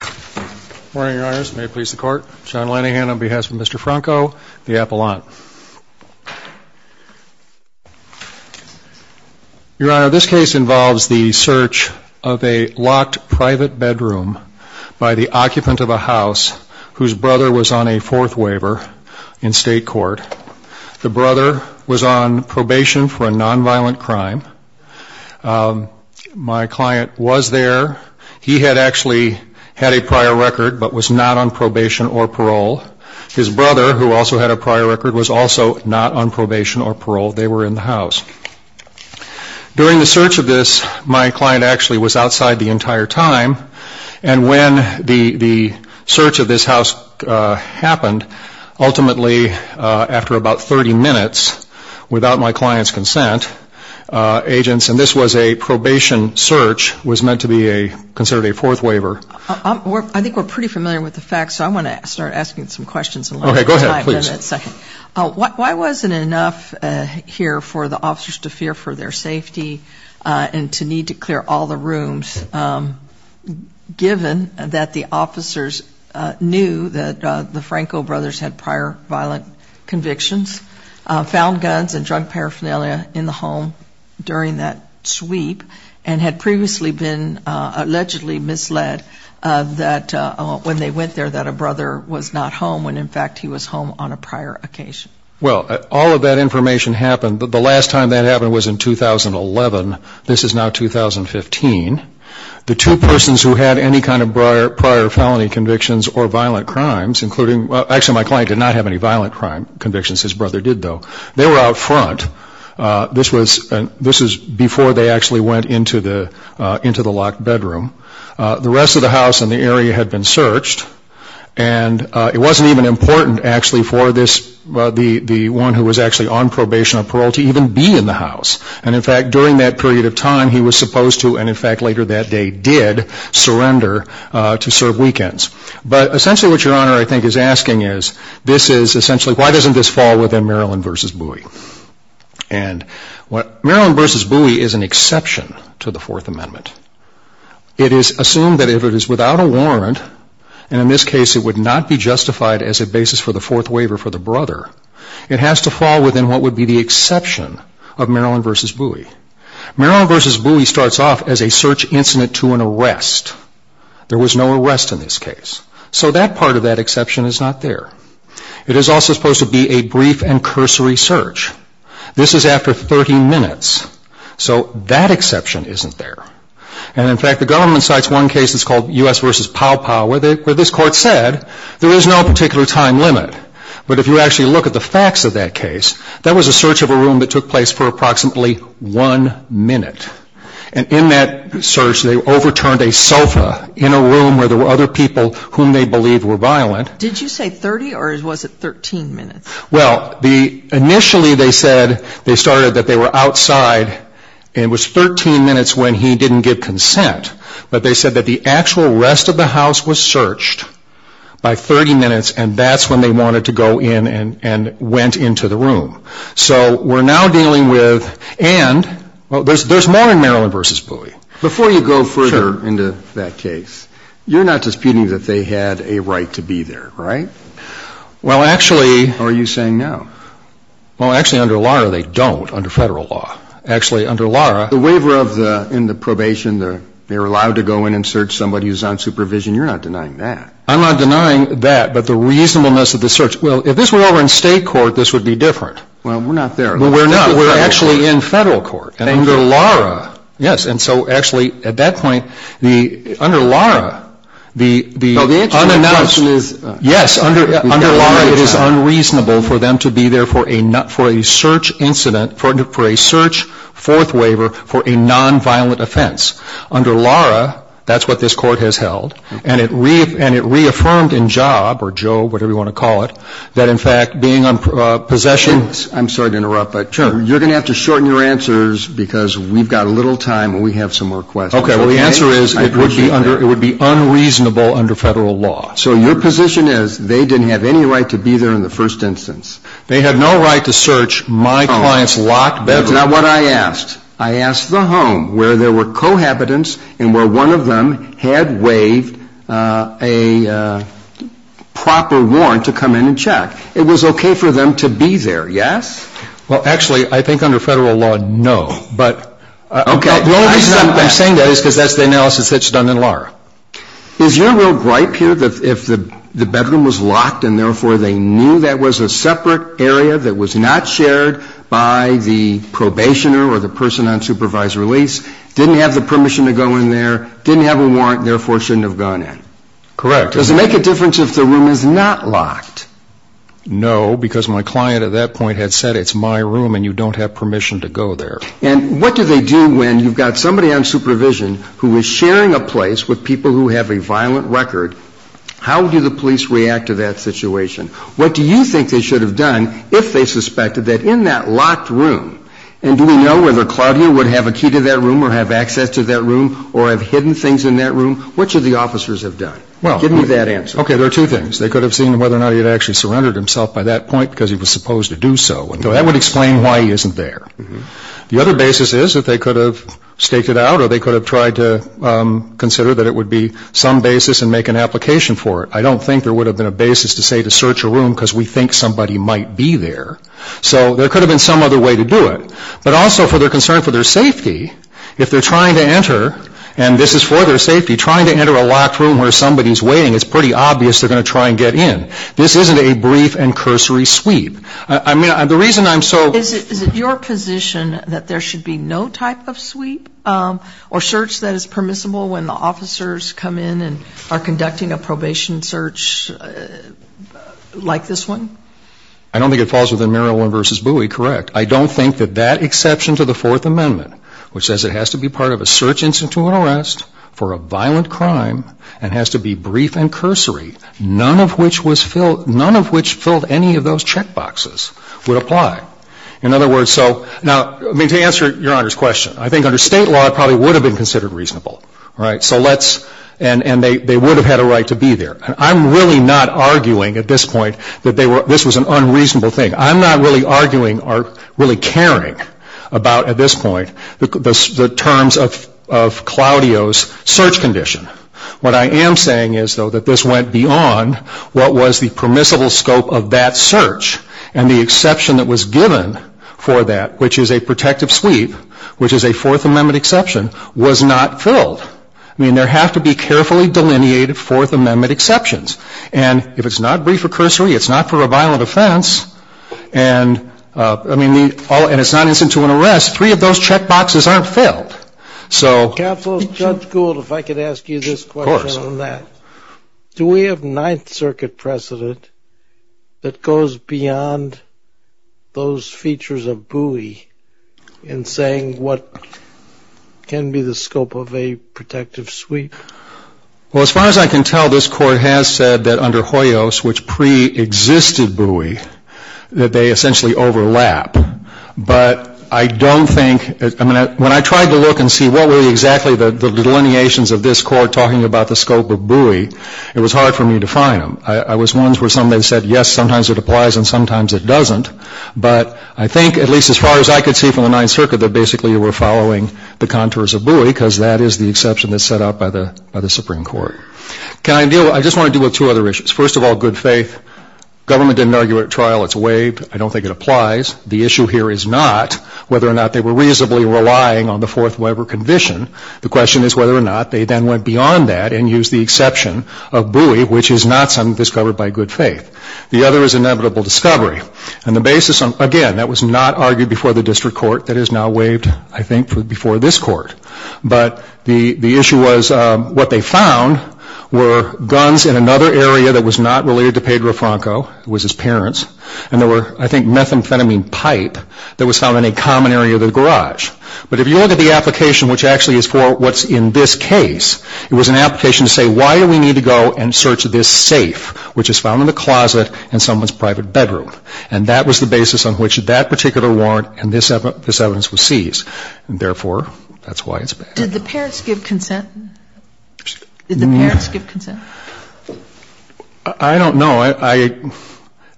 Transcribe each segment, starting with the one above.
Good morning, your honors. May it please the court. John Lanihan on behalf of Mr. Franco, the appellant. Your honor, this case involves the search of a locked private bedroom by the occupant of a house whose brother was on a fourth waiver in state court. The brother was on probation for a nonviolent crime. My client was there. He had actually had a prior record but was not on probation or parole. His brother, who also had a prior record, was also not on probation or parole. They were in the house. During the search of this, my client actually was outside the entire time. And when the search of this house happened, ultimately after about 30 minutes, without my client's consent, agents, and this was a probation search, was meant to be considered a fourth waiver. I think we're pretty familiar with the facts, so I want to start asking some questions. Okay, go ahead. Why wasn't it enough here for the officers to fear for their safety and to need to clear all the rooms, given that the officers knew that the Franco brothers had prior violent convictions, found guns and drug paraphernalia in the home during that sweep, and had previously been allegedly misled that when they went there that a brother was not home, when in fact he was home on a prior occasion? Well, all of that information happened. The last time that happened was in 2011. This is now 2015. The two persons who had any kind of prior felony convictions or violent crimes, including, well, actually my client did not have any violent convictions. His brother did, though. They were out front. This was before they actually went into the locked bedroom. The rest of the house and the area had been searched. And it wasn't even important, actually, for the one who was actually on probation or parole to even be in the house. And in fact, during that period of time, he was supposed to, and in fact later that day did, surrender to serve weekends. But essentially what Your Honor, I think, is asking is, this is essentially, why doesn't this fall within Maryland v. Bowie? And Maryland v. Bowie is an exception to the Fourth Amendment. It is assumed that if it is without a warrant, and in this case it would not be justified as a basis for the fourth waiver for the brother, it has to fall within what would be the exception of Maryland v. Bowie. Maryland v. Bowie starts off as a search incident to an arrest. There was no arrest in this case. So that part of that exception is not there. It is also supposed to be a brief and cursory search. This is after 30 minutes. So that exception isn't there. And in fact, the government cites one case that's called U.S. v. Pow Pow, where this court said there is no particular time limit. But if you actually look at the facts of that case, that was a search of a room that took place for approximately one minute. And in that search, they overturned a sofa in a room where there were other people whom they believed were violent. Did you say 30 or was it 13 minutes? Well, initially they said they started that they were outside, and it was 13 minutes when he didn't give consent. But they said that the actual rest of the house was searched by 30 minutes, and that's when they wanted to go in and went into the room. So we're now dealing with, and there's more in Maryland v. Bowie. Before you go further into that case, you're not disputing that they had a right to be there, right? Well, actually. Or are you saying no? Well, actually, under Lara, they don't under Federal law. Actually, under Lara. The waiver in the probation, they were allowed to go in and search somebody who's on supervision. You're not denying that. I'm not denying that, but the reasonableness of the search. Well, if this were over in state court, this would be different. Well, we're not there. We're not. We're actually in Federal court. Under Lara. Yes. And so actually at that point, under Lara, the unannounced. Yes, under Lara it is unreasonable for them to be there for a search incident, for a search fourth waiver for a nonviolent offense. Under Lara, that's what this court has held. And it reaffirmed in Job or Joe, whatever you want to call it, that in fact being on possession. I'm sorry to interrupt, but you're going to have to shorten your answers because we've got a little time and we have some more questions. Okay. Well, the answer is it would be unreasonable under Federal law. So your position is they didn't have any right to be there in the first instance. They had no right to search my client's locked bedroom. That's not what I asked. I asked the home where there were cohabitants and where one of them had waived a proper warrant to come in and check. It was okay for them to be there, yes? Well, actually, I think under Federal law, no. But the only reason I'm saying that is because that's the analysis that's done in Lara. Is your real gripe here that if the bedroom was locked and therefore they knew that was a separate area that was not shared by the probationer or the person on supervised release, didn't have the permission to go in there, didn't have a warrant, therefore shouldn't have gone in? Correct. Does it make a difference if the room is not locked? No, because my client at that point had said it's my room and you don't have permission to go there. And what do they do when you've got somebody on supervision who is sharing a place with people who have a violent record? How do the police react to that situation? What do you think they should have done if they suspected that in that locked room, and do we know whether Claudia would have a key to that room or have access to that room or have hidden things in that room? What should the officers have done? Give me that answer. Okay, there are two things. They could have seen whether or not he had actually surrendered himself by that point because he was supposed to do so. So that would explain why he isn't there. The other basis is that they could have staked it out or they could have tried to consider that it would be some basis and make an application for it. I don't think there would have been a basis to say to search a room because we think somebody might be there. So there could have been some other way to do it. But also for their concern for their safety, if they're trying to enter, and this is for their safety, trying to enter a locked room where somebody is waiting, it's pretty obvious they're going to try and get in. This isn't a brief and cursory sweep. I mean, the reason I'm so ---- Is it your position that there should be no type of sweep or search that is permissible when the officers come in and are conducting a probation search like this one? I don't think it falls within Maryland v. Bowie. Correct. I don't think that that exception to the Fourth Amendment, which says it has to be part of a search, for a violent crime and has to be brief and cursory, none of which was filled ---- none of which filled any of those check boxes would apply. In other words, so ---- Now, I mean, to answer Your Honor's question, I think under State law it probably would have been considered reasonable. Right? So let's ---- And they would have had a right to be there. I'm really not arguing at this point that this was an unreasonable thing. I'm not really arguing or really caring about, at this point, the terms of Claudio's search condition. What I am saying is, though, that this went beyond what was the permissible scope of that search and the exception that was given for that, which is a protective sweep, which is a Fourth Amendment exception, was not filled. I mean, there have to be carefully delineated Fourth Amendment exceptions. And if it's not brief or cursory, it's not for a violent offense, and it's not instant to an arrest, three of those check boxes aren't filled. So ---- Counsel, Judge Gould, if I could ask you this question on that. Of course. Do we have Ninth Circuit precedent that goes beyond those features of buoy in saying what can be the scope of a protective sweep? Well, as far as I can tell, this Court has said that under Hoyos, which preexisted buoy, that they essentially overlap. But I don't think ---- I mean, when I tried to look and see what were exactly the delineations of this Court talking about the scope of buoy, it was hard for me to find them. I was one where somebody said, yes, sometimes it applies and sometimes it doesn't. But I think, at least as far as I could see from the Ninth Circuit, that basically you were following the contours of buoy because that is the exception that's set out by the Supreme Court. Can I deal with ---- I just want to deal with two other issues. First of all, good faith. Government didn't argue at trial it's waived. I don't think it applies. The issue here is not whether or not they were reasonably relying on the Fourth Weber condition. The question is whether or not they then went beyond that and used the exception of buoy, which is not something discovered by good faith. The other is inevitable discovery. Again, that was not argued before the District Court. That is now waived, I think, before this Court. But the issue was what they found were guns in another area that was not related to Pedro Franco. It was his parents. And there were, I think, methamphetamine pipe that was found in a common area of the garage. But if you look at the application, which actually is for what's in this case, it was an application to say why do we need to go and search this safe, which is found in a closet in someone's private bedroom. And that was the basis on which that particular warrant and this evidence was seized. And, therefore, that's why it's bad. Did the parents give consent? Did the parents give consent? I don't know.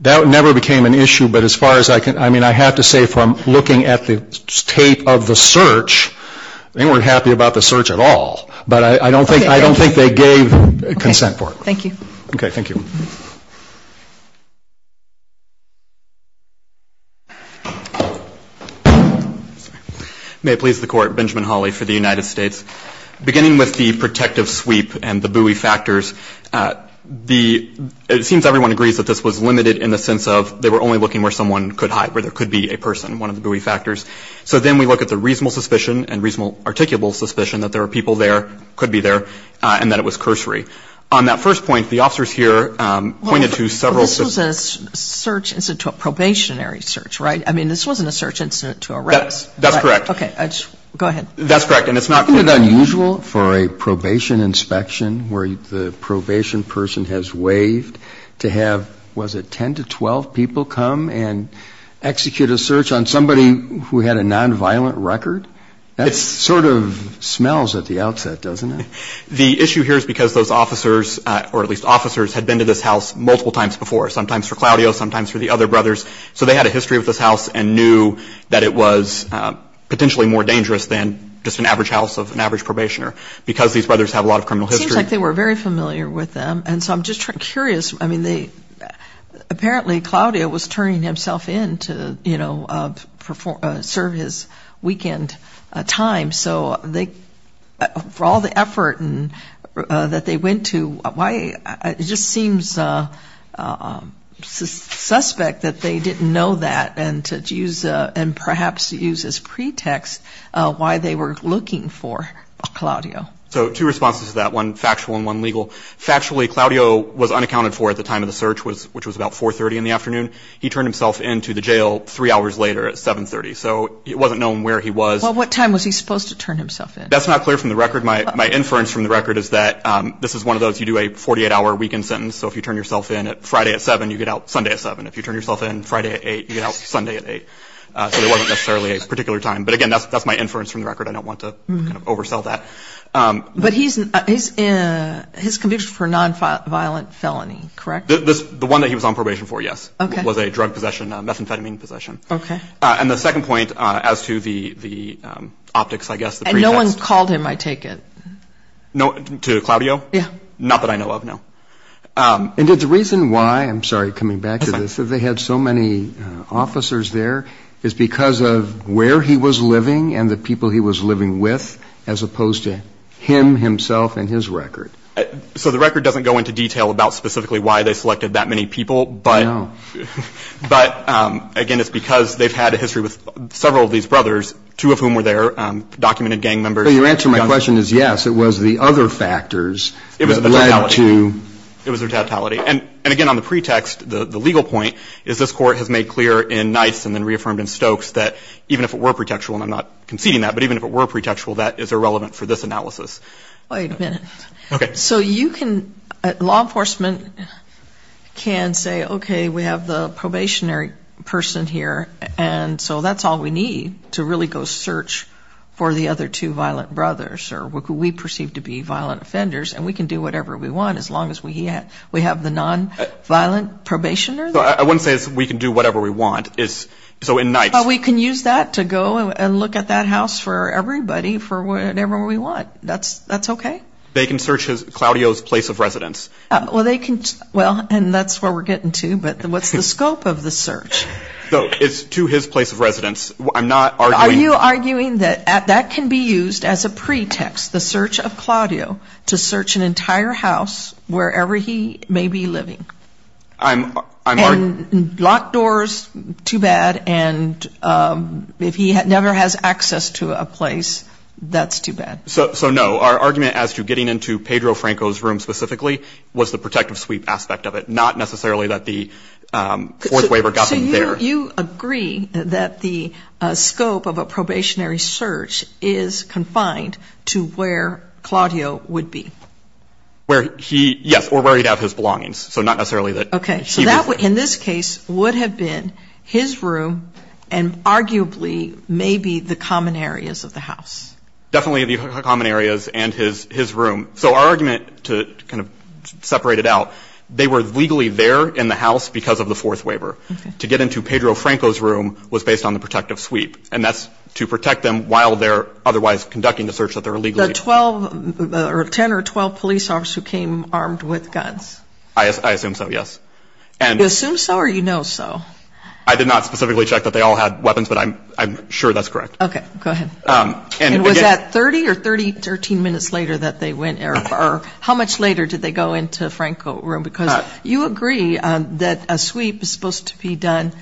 That never became an issue. But as far as I can ---- I mean, I have to say from looking at the tape of the search, they weren't happy about the search at all. But I don't think they gave consent for it. Thank you. Okay. Thank you. May it please the Court. Benjamin Hawley for the United States. Beginning with the protective sweep and the buoy factors, it seems everyone agrees that this was limited in the sense of they were only looking where someone could hide, where there could be a person, one of the buoy factors. So then we look at the reasonable suspicion and reasonable articulable suspicion that there were people there, could be there, and that it was cursory. On that first point, the officers here pointed to several ---- Well, this was a search incident to a probationary search, right? I mean, this wasn't a search incident to arrest. That's correct. Okay. Go ahead. That's correct. And it's not ---- Isn't it unusual for a probation inspection where the probation person has waived to have, was it 10 to 12 people come and execute a search on somebody who had a nonviolent record? It sort of smells at the outset, doesn't it? The issue here is because those officers, or at least officers, had been to this house multiple times before, sometimes for Claudio, sometimes for the other brothers. So they had a history of this house and knew that it was potentially more dangerous than just an average house of an average probationer because these brothers have a lot of criminal history. It seems like they were very familiar with them. And so I'm just curious. I mean, apparently Claudio was turning himself in to, you know, serve his weekend time. So for all the effort that they went to, it just seems suspect that they didn't know that and perhaps to use as pretext why they were looking for Claudio. So two responses to that, one factual and one legal. Factually, Claudio was unaccounted for at the time of the search, which was about 4.30 in the afternoon. He turned himself in to the jail three hours later at 7.30. So it wasn't known where he was. Well, what time was he supposed to turn himself in? That's not clear from the record. My inference from the record is that this is one of those you do a 48-hour weekend sentence. So if you turn yourself in Friday at 7, you get out Sunday at 7. If you turn yourself in Friday at 8, you get out Sunday at 8. So there wasn't necessarily a particular time. But, again, that's my inference from the record. I don't want to kind of oversell that. But his conviction for nonviolent felony, correct? The one that he was on probation for, yes, was a drug possession, a methamphetamine possession. Okay. And the second point as to the optics, I guess, the pretext. And no one called him, I take it? To Claudio? Yeah. Not that I know of, no. And did the reason why, I'm sorry, coming back to this, that they had so many officers there is because of where he was living and the people he was living with as opposed to him, himself, and his record? So the record doesn't go into detail about specifically why they selected that many people. No. But, again, it's because they've had a history with several of these brothers, two of whom were there, documented gang members. So your answer to my question is yes, it was the other factors that led to? It was their totality. It was their totality. And, again, on the pretext, the legal point is this Court has made clear in Nice and then reaffirmed in Stokes that even if it were pretextual, and I'm not conceding that, but even if it were pretextual, that is irrelevant for this analysis. Wait a minute. Okay. So you can, law enforcement can say, okay, we have the probationary person here, and so that's all we need to really go search for the other two violent brothers or what we perceive to be violent offenders, and we can do whatever we want as long as we have the nonviolent probationary? I wouldn't say we can do whatever we want. So in Nice. We can use that to go and look at that house for everybody for whatever we want. That's okay. They can search Claudio's place of residence. Well, and that's where we're getting to, but what's the scope of the search? It's to his place of residence. I'm not arguing. Are you arguing that that can be used as a pretext, the search of Claudio, to search an entire house wherever he may be living? And locked doors, too bad, and if he never has access to a place, that's too bad. So, no. Our argument as to getting into Pedro Franco's room specifically was the protective sweep aspect of it, not necessarily that the fourth waiver got them there. So you agree that the scope of a probationary search is confined to where Claudio would be? Yes, or where he'd have his belongings, so not necessarily that he would. Okay, so in this case would have been his room and arguably maybe the common areas of the house. Definitely the common areas and his room. So our argument to kind of separate it out, they were legally there in the house because of the fourth waiver. To get into Pedro Franco's room was based on the protective sweep, and that's to protect them while they're otherwise conducting the search that they're legally doing. The 10 or 12 police officers who came armed with guns? I assume so, yes. You assume so or you know so? I did not specifically check that they all had weapons, but I'm sure that's correct. Okay, go ahead. And was that 30 or 30, 13 minutes later that they went, or how much later did they go into Franco's room? Because you agree that a sweep is supposed to be done,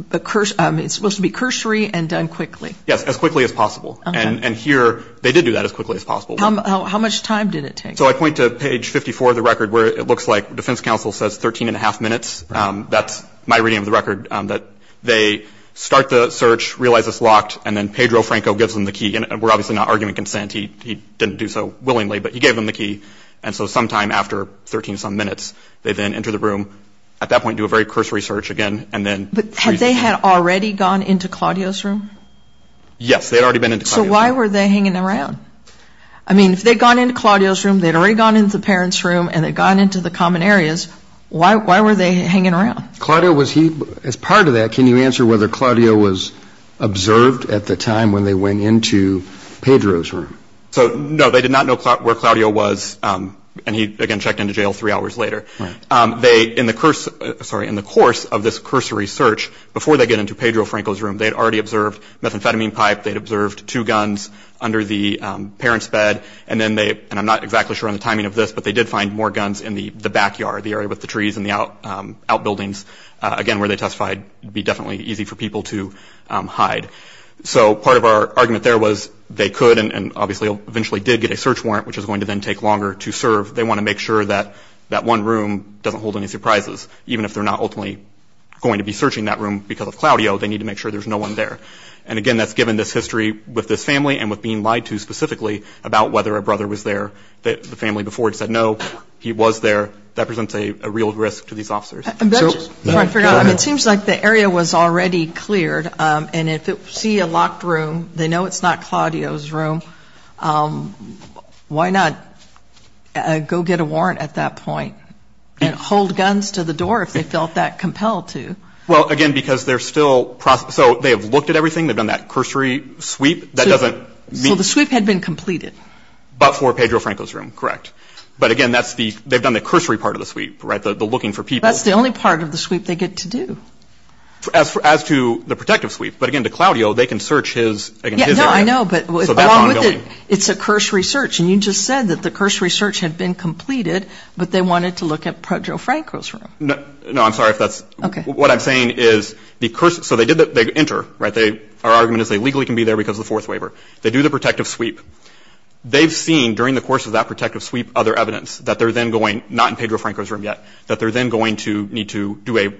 it's supposed to be cursory and done quickly. Yes, as quickly as possible, and here they did do that as quickly as possible. How much time did it take? So I point to page 54 of the record where it looks like defense counsel says 13 1⁄2 minutes. That's my reading of the record, that they start the search, realize it's locked, and then Pedro Franco gives them the key. And we're obviously not arguing consent. He didn't do so willingly, but he gave them the key. And so sometime after 13-some minutes, they then enter the room, at that point do a very cursory search again, and then freeze the search. But had they had already gone into Claudio's room? Yes, they had already been into Claudio's room. So why were they hanging around? I mean, if they'd gone into Claudio's room, they'd already gone into the parents' room, and they'd gone into the common areas, why were they hanging around? Claudio, as part of that, can you answer whether Claudio was observed at the time when they went into Pedro's room? No, they did not know where Claudio was, and he, again, checked into jail three hours later. In the course of this cursory search, before they get into Pedro Franco's room, they'd already observed methamphetamine pipe, they'd observed two guns under the parents' bed, and I'm not exactly sure on the timing of this, but they did find more guns in the backyard, the area with the trees and the outbuildings. Again, where they testified it'd be definitely easy for people to hide. So part of our argument there was they could, and obviously eventually did get a search warrant, which is going to then take longer to serve. They want to make sure that that one room doesn't hold any surprises. Even if they're not ultimately going to be searching that room because of Claudio, they need to make sure there's no one there. And again, that's given this history with this family and with being lied to specifically about whether a brother was there. The family before had said, no, he was there. That presents a real risk to these officers. It seems like the area was already cleared, and if they see a locked room, they know it's not Claudio's room, why not go get a warrant at that point and hold guns to the door if they felt that compelled to? Well, again, because they're still processing. So they have looked at everything. They've done that cursory sweep. So the sweep had been completed. But for Pedro Franco's room, correct. But again, they've done the cursory part of the sweep, right, the looking for people. That's the only part of the sweep they get to do. As to the protective sweep. But again, to Claudio, they can search his area. No, I know, but along with it, it's a cursory search. And you just said that the cursory search had been completed, but they wanted to look at Pedro Franco's room. No, I'm sorry if that's ‑‑ Okay. What I'm saying is the cursory ‑‑ so they enter. Our argument is they legally can be there because of the fourth waiver. They do the protective sweep. They've seen during the course of that protective sweep other evidence that they're then going, not in Pedro Franco's room yet, that they're then going to need to do a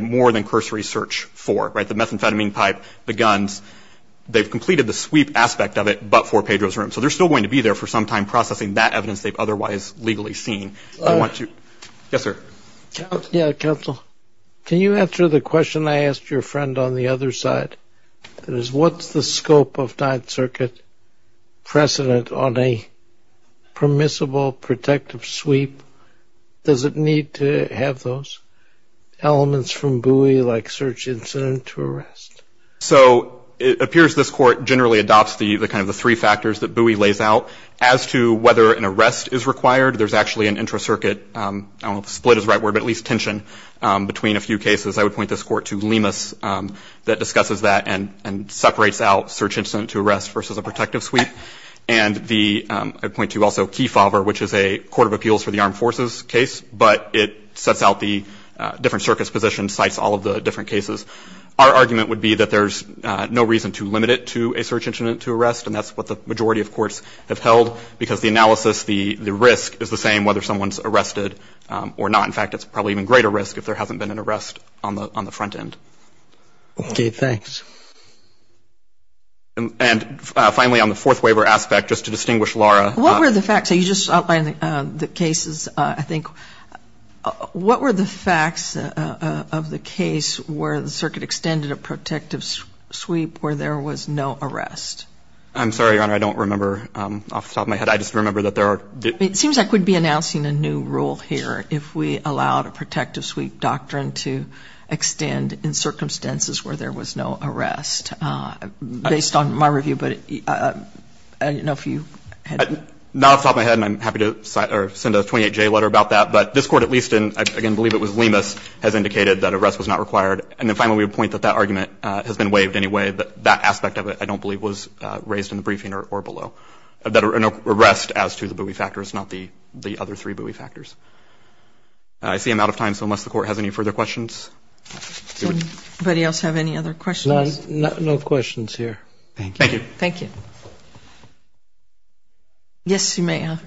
more than cursory search for, right, the methamphetamine pipe, the guns. They've completed the sweep aspect of it, but for Pedro's room. So they're still going to be there for some time processing that evidence they've otherwise legally seen. Yes, sir. Yeah, counsel. Can you answer the question I asked your friend on the other side? What's the scope of Ninth Circuit precedent on a permissible protective sweep? Does it need to have those elements from Bowie like search incident to arrest? So it appears this court generally adopts the three factors that Bowie lays out. As to whether an arrest is required, there's actually an intracircuit, I don't know if split is the right word, but at least tension between a few cases. I would point this court to Lemus that discusses that and separates out search incident to arrest versus a protective sweep. And I'd point to also Kefauver, which is a court of appeals for the armed forces case, but it sets out the different circuits' positions, cites all of the different cases. Our argument would be that there's no reason to limit it to a search incident to arrest, and that's what the majority of courts have held because the analysis, the risk is the same whether someone's arrested or not. In fact, it's probably even greater risk if there hasn't been an arrest on the front end. Okay. Thanks. And finally, on the fourth waiver aspect, just to distinguish Laura. What were the facts? You just outlined the cases, I think. What were the facts of the case where the circuit extended a protective sweep where there was no arrest? I'm sorry, Your Honor, I don't remember off the top of my head. I just remember that there are. It seems like we'd be announcing a new rule here if we allowed a protective sweep doctrine to extend in circumstances where there was no arrest, based on my review. But I don't know if you had. Not off the top of my head, and I'm happy to send a 28-J letter about that. But this Court, at least in, again, I believe it was Lemus, has indicated that arrest was not required. And then finally, we would point that that argument has been waived anyway, but that aspect of it, I don't believe, was raised in the briefing or below, that an arrest as to the buoy factors, not the other three buoy factors. I see I'm out of time, so unless the Court has any further questions. Does anybody else have any other questions? No questions here. Thank you. Thank you. Yes, you may. I'll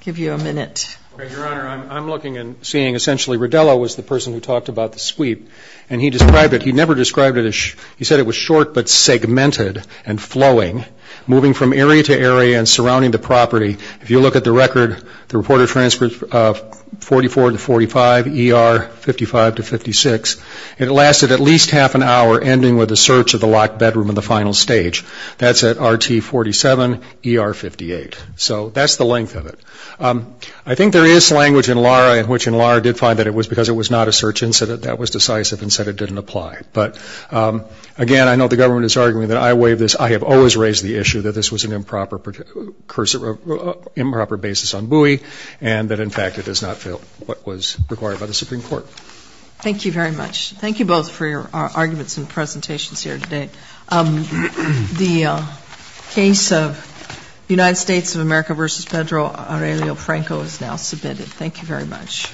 give you a minute. Your Honor, I'm looking and seeing, essentially, Rodello was the person who talked about the sweep, and he described it. He never described it. He said it was short but segmented and flowing, moving from area to area and surrounding the property. If you look at the record, the reported transport 44 to 45, ER 55 to 56, it lasted at least half an hour, ending with the search of the locked bedroom in the final stage. That's at RT 47, ER 58. So that's the length of it. I think there is language in Lara, which in Lara did find that it was because it was not a search incident, that was decisive and said it didn't apply. But, again, I know the government is arguing that I waived this. I have always raised the issue that this was an improper basis on buoy and that, in fact, it is not what was required by the Supreme Court. Thank you very much. Thank you both for your arguments and presentations here today. The case of the United States of America v. Federal, Aurelio Franco, is now submitted. Thank you very much.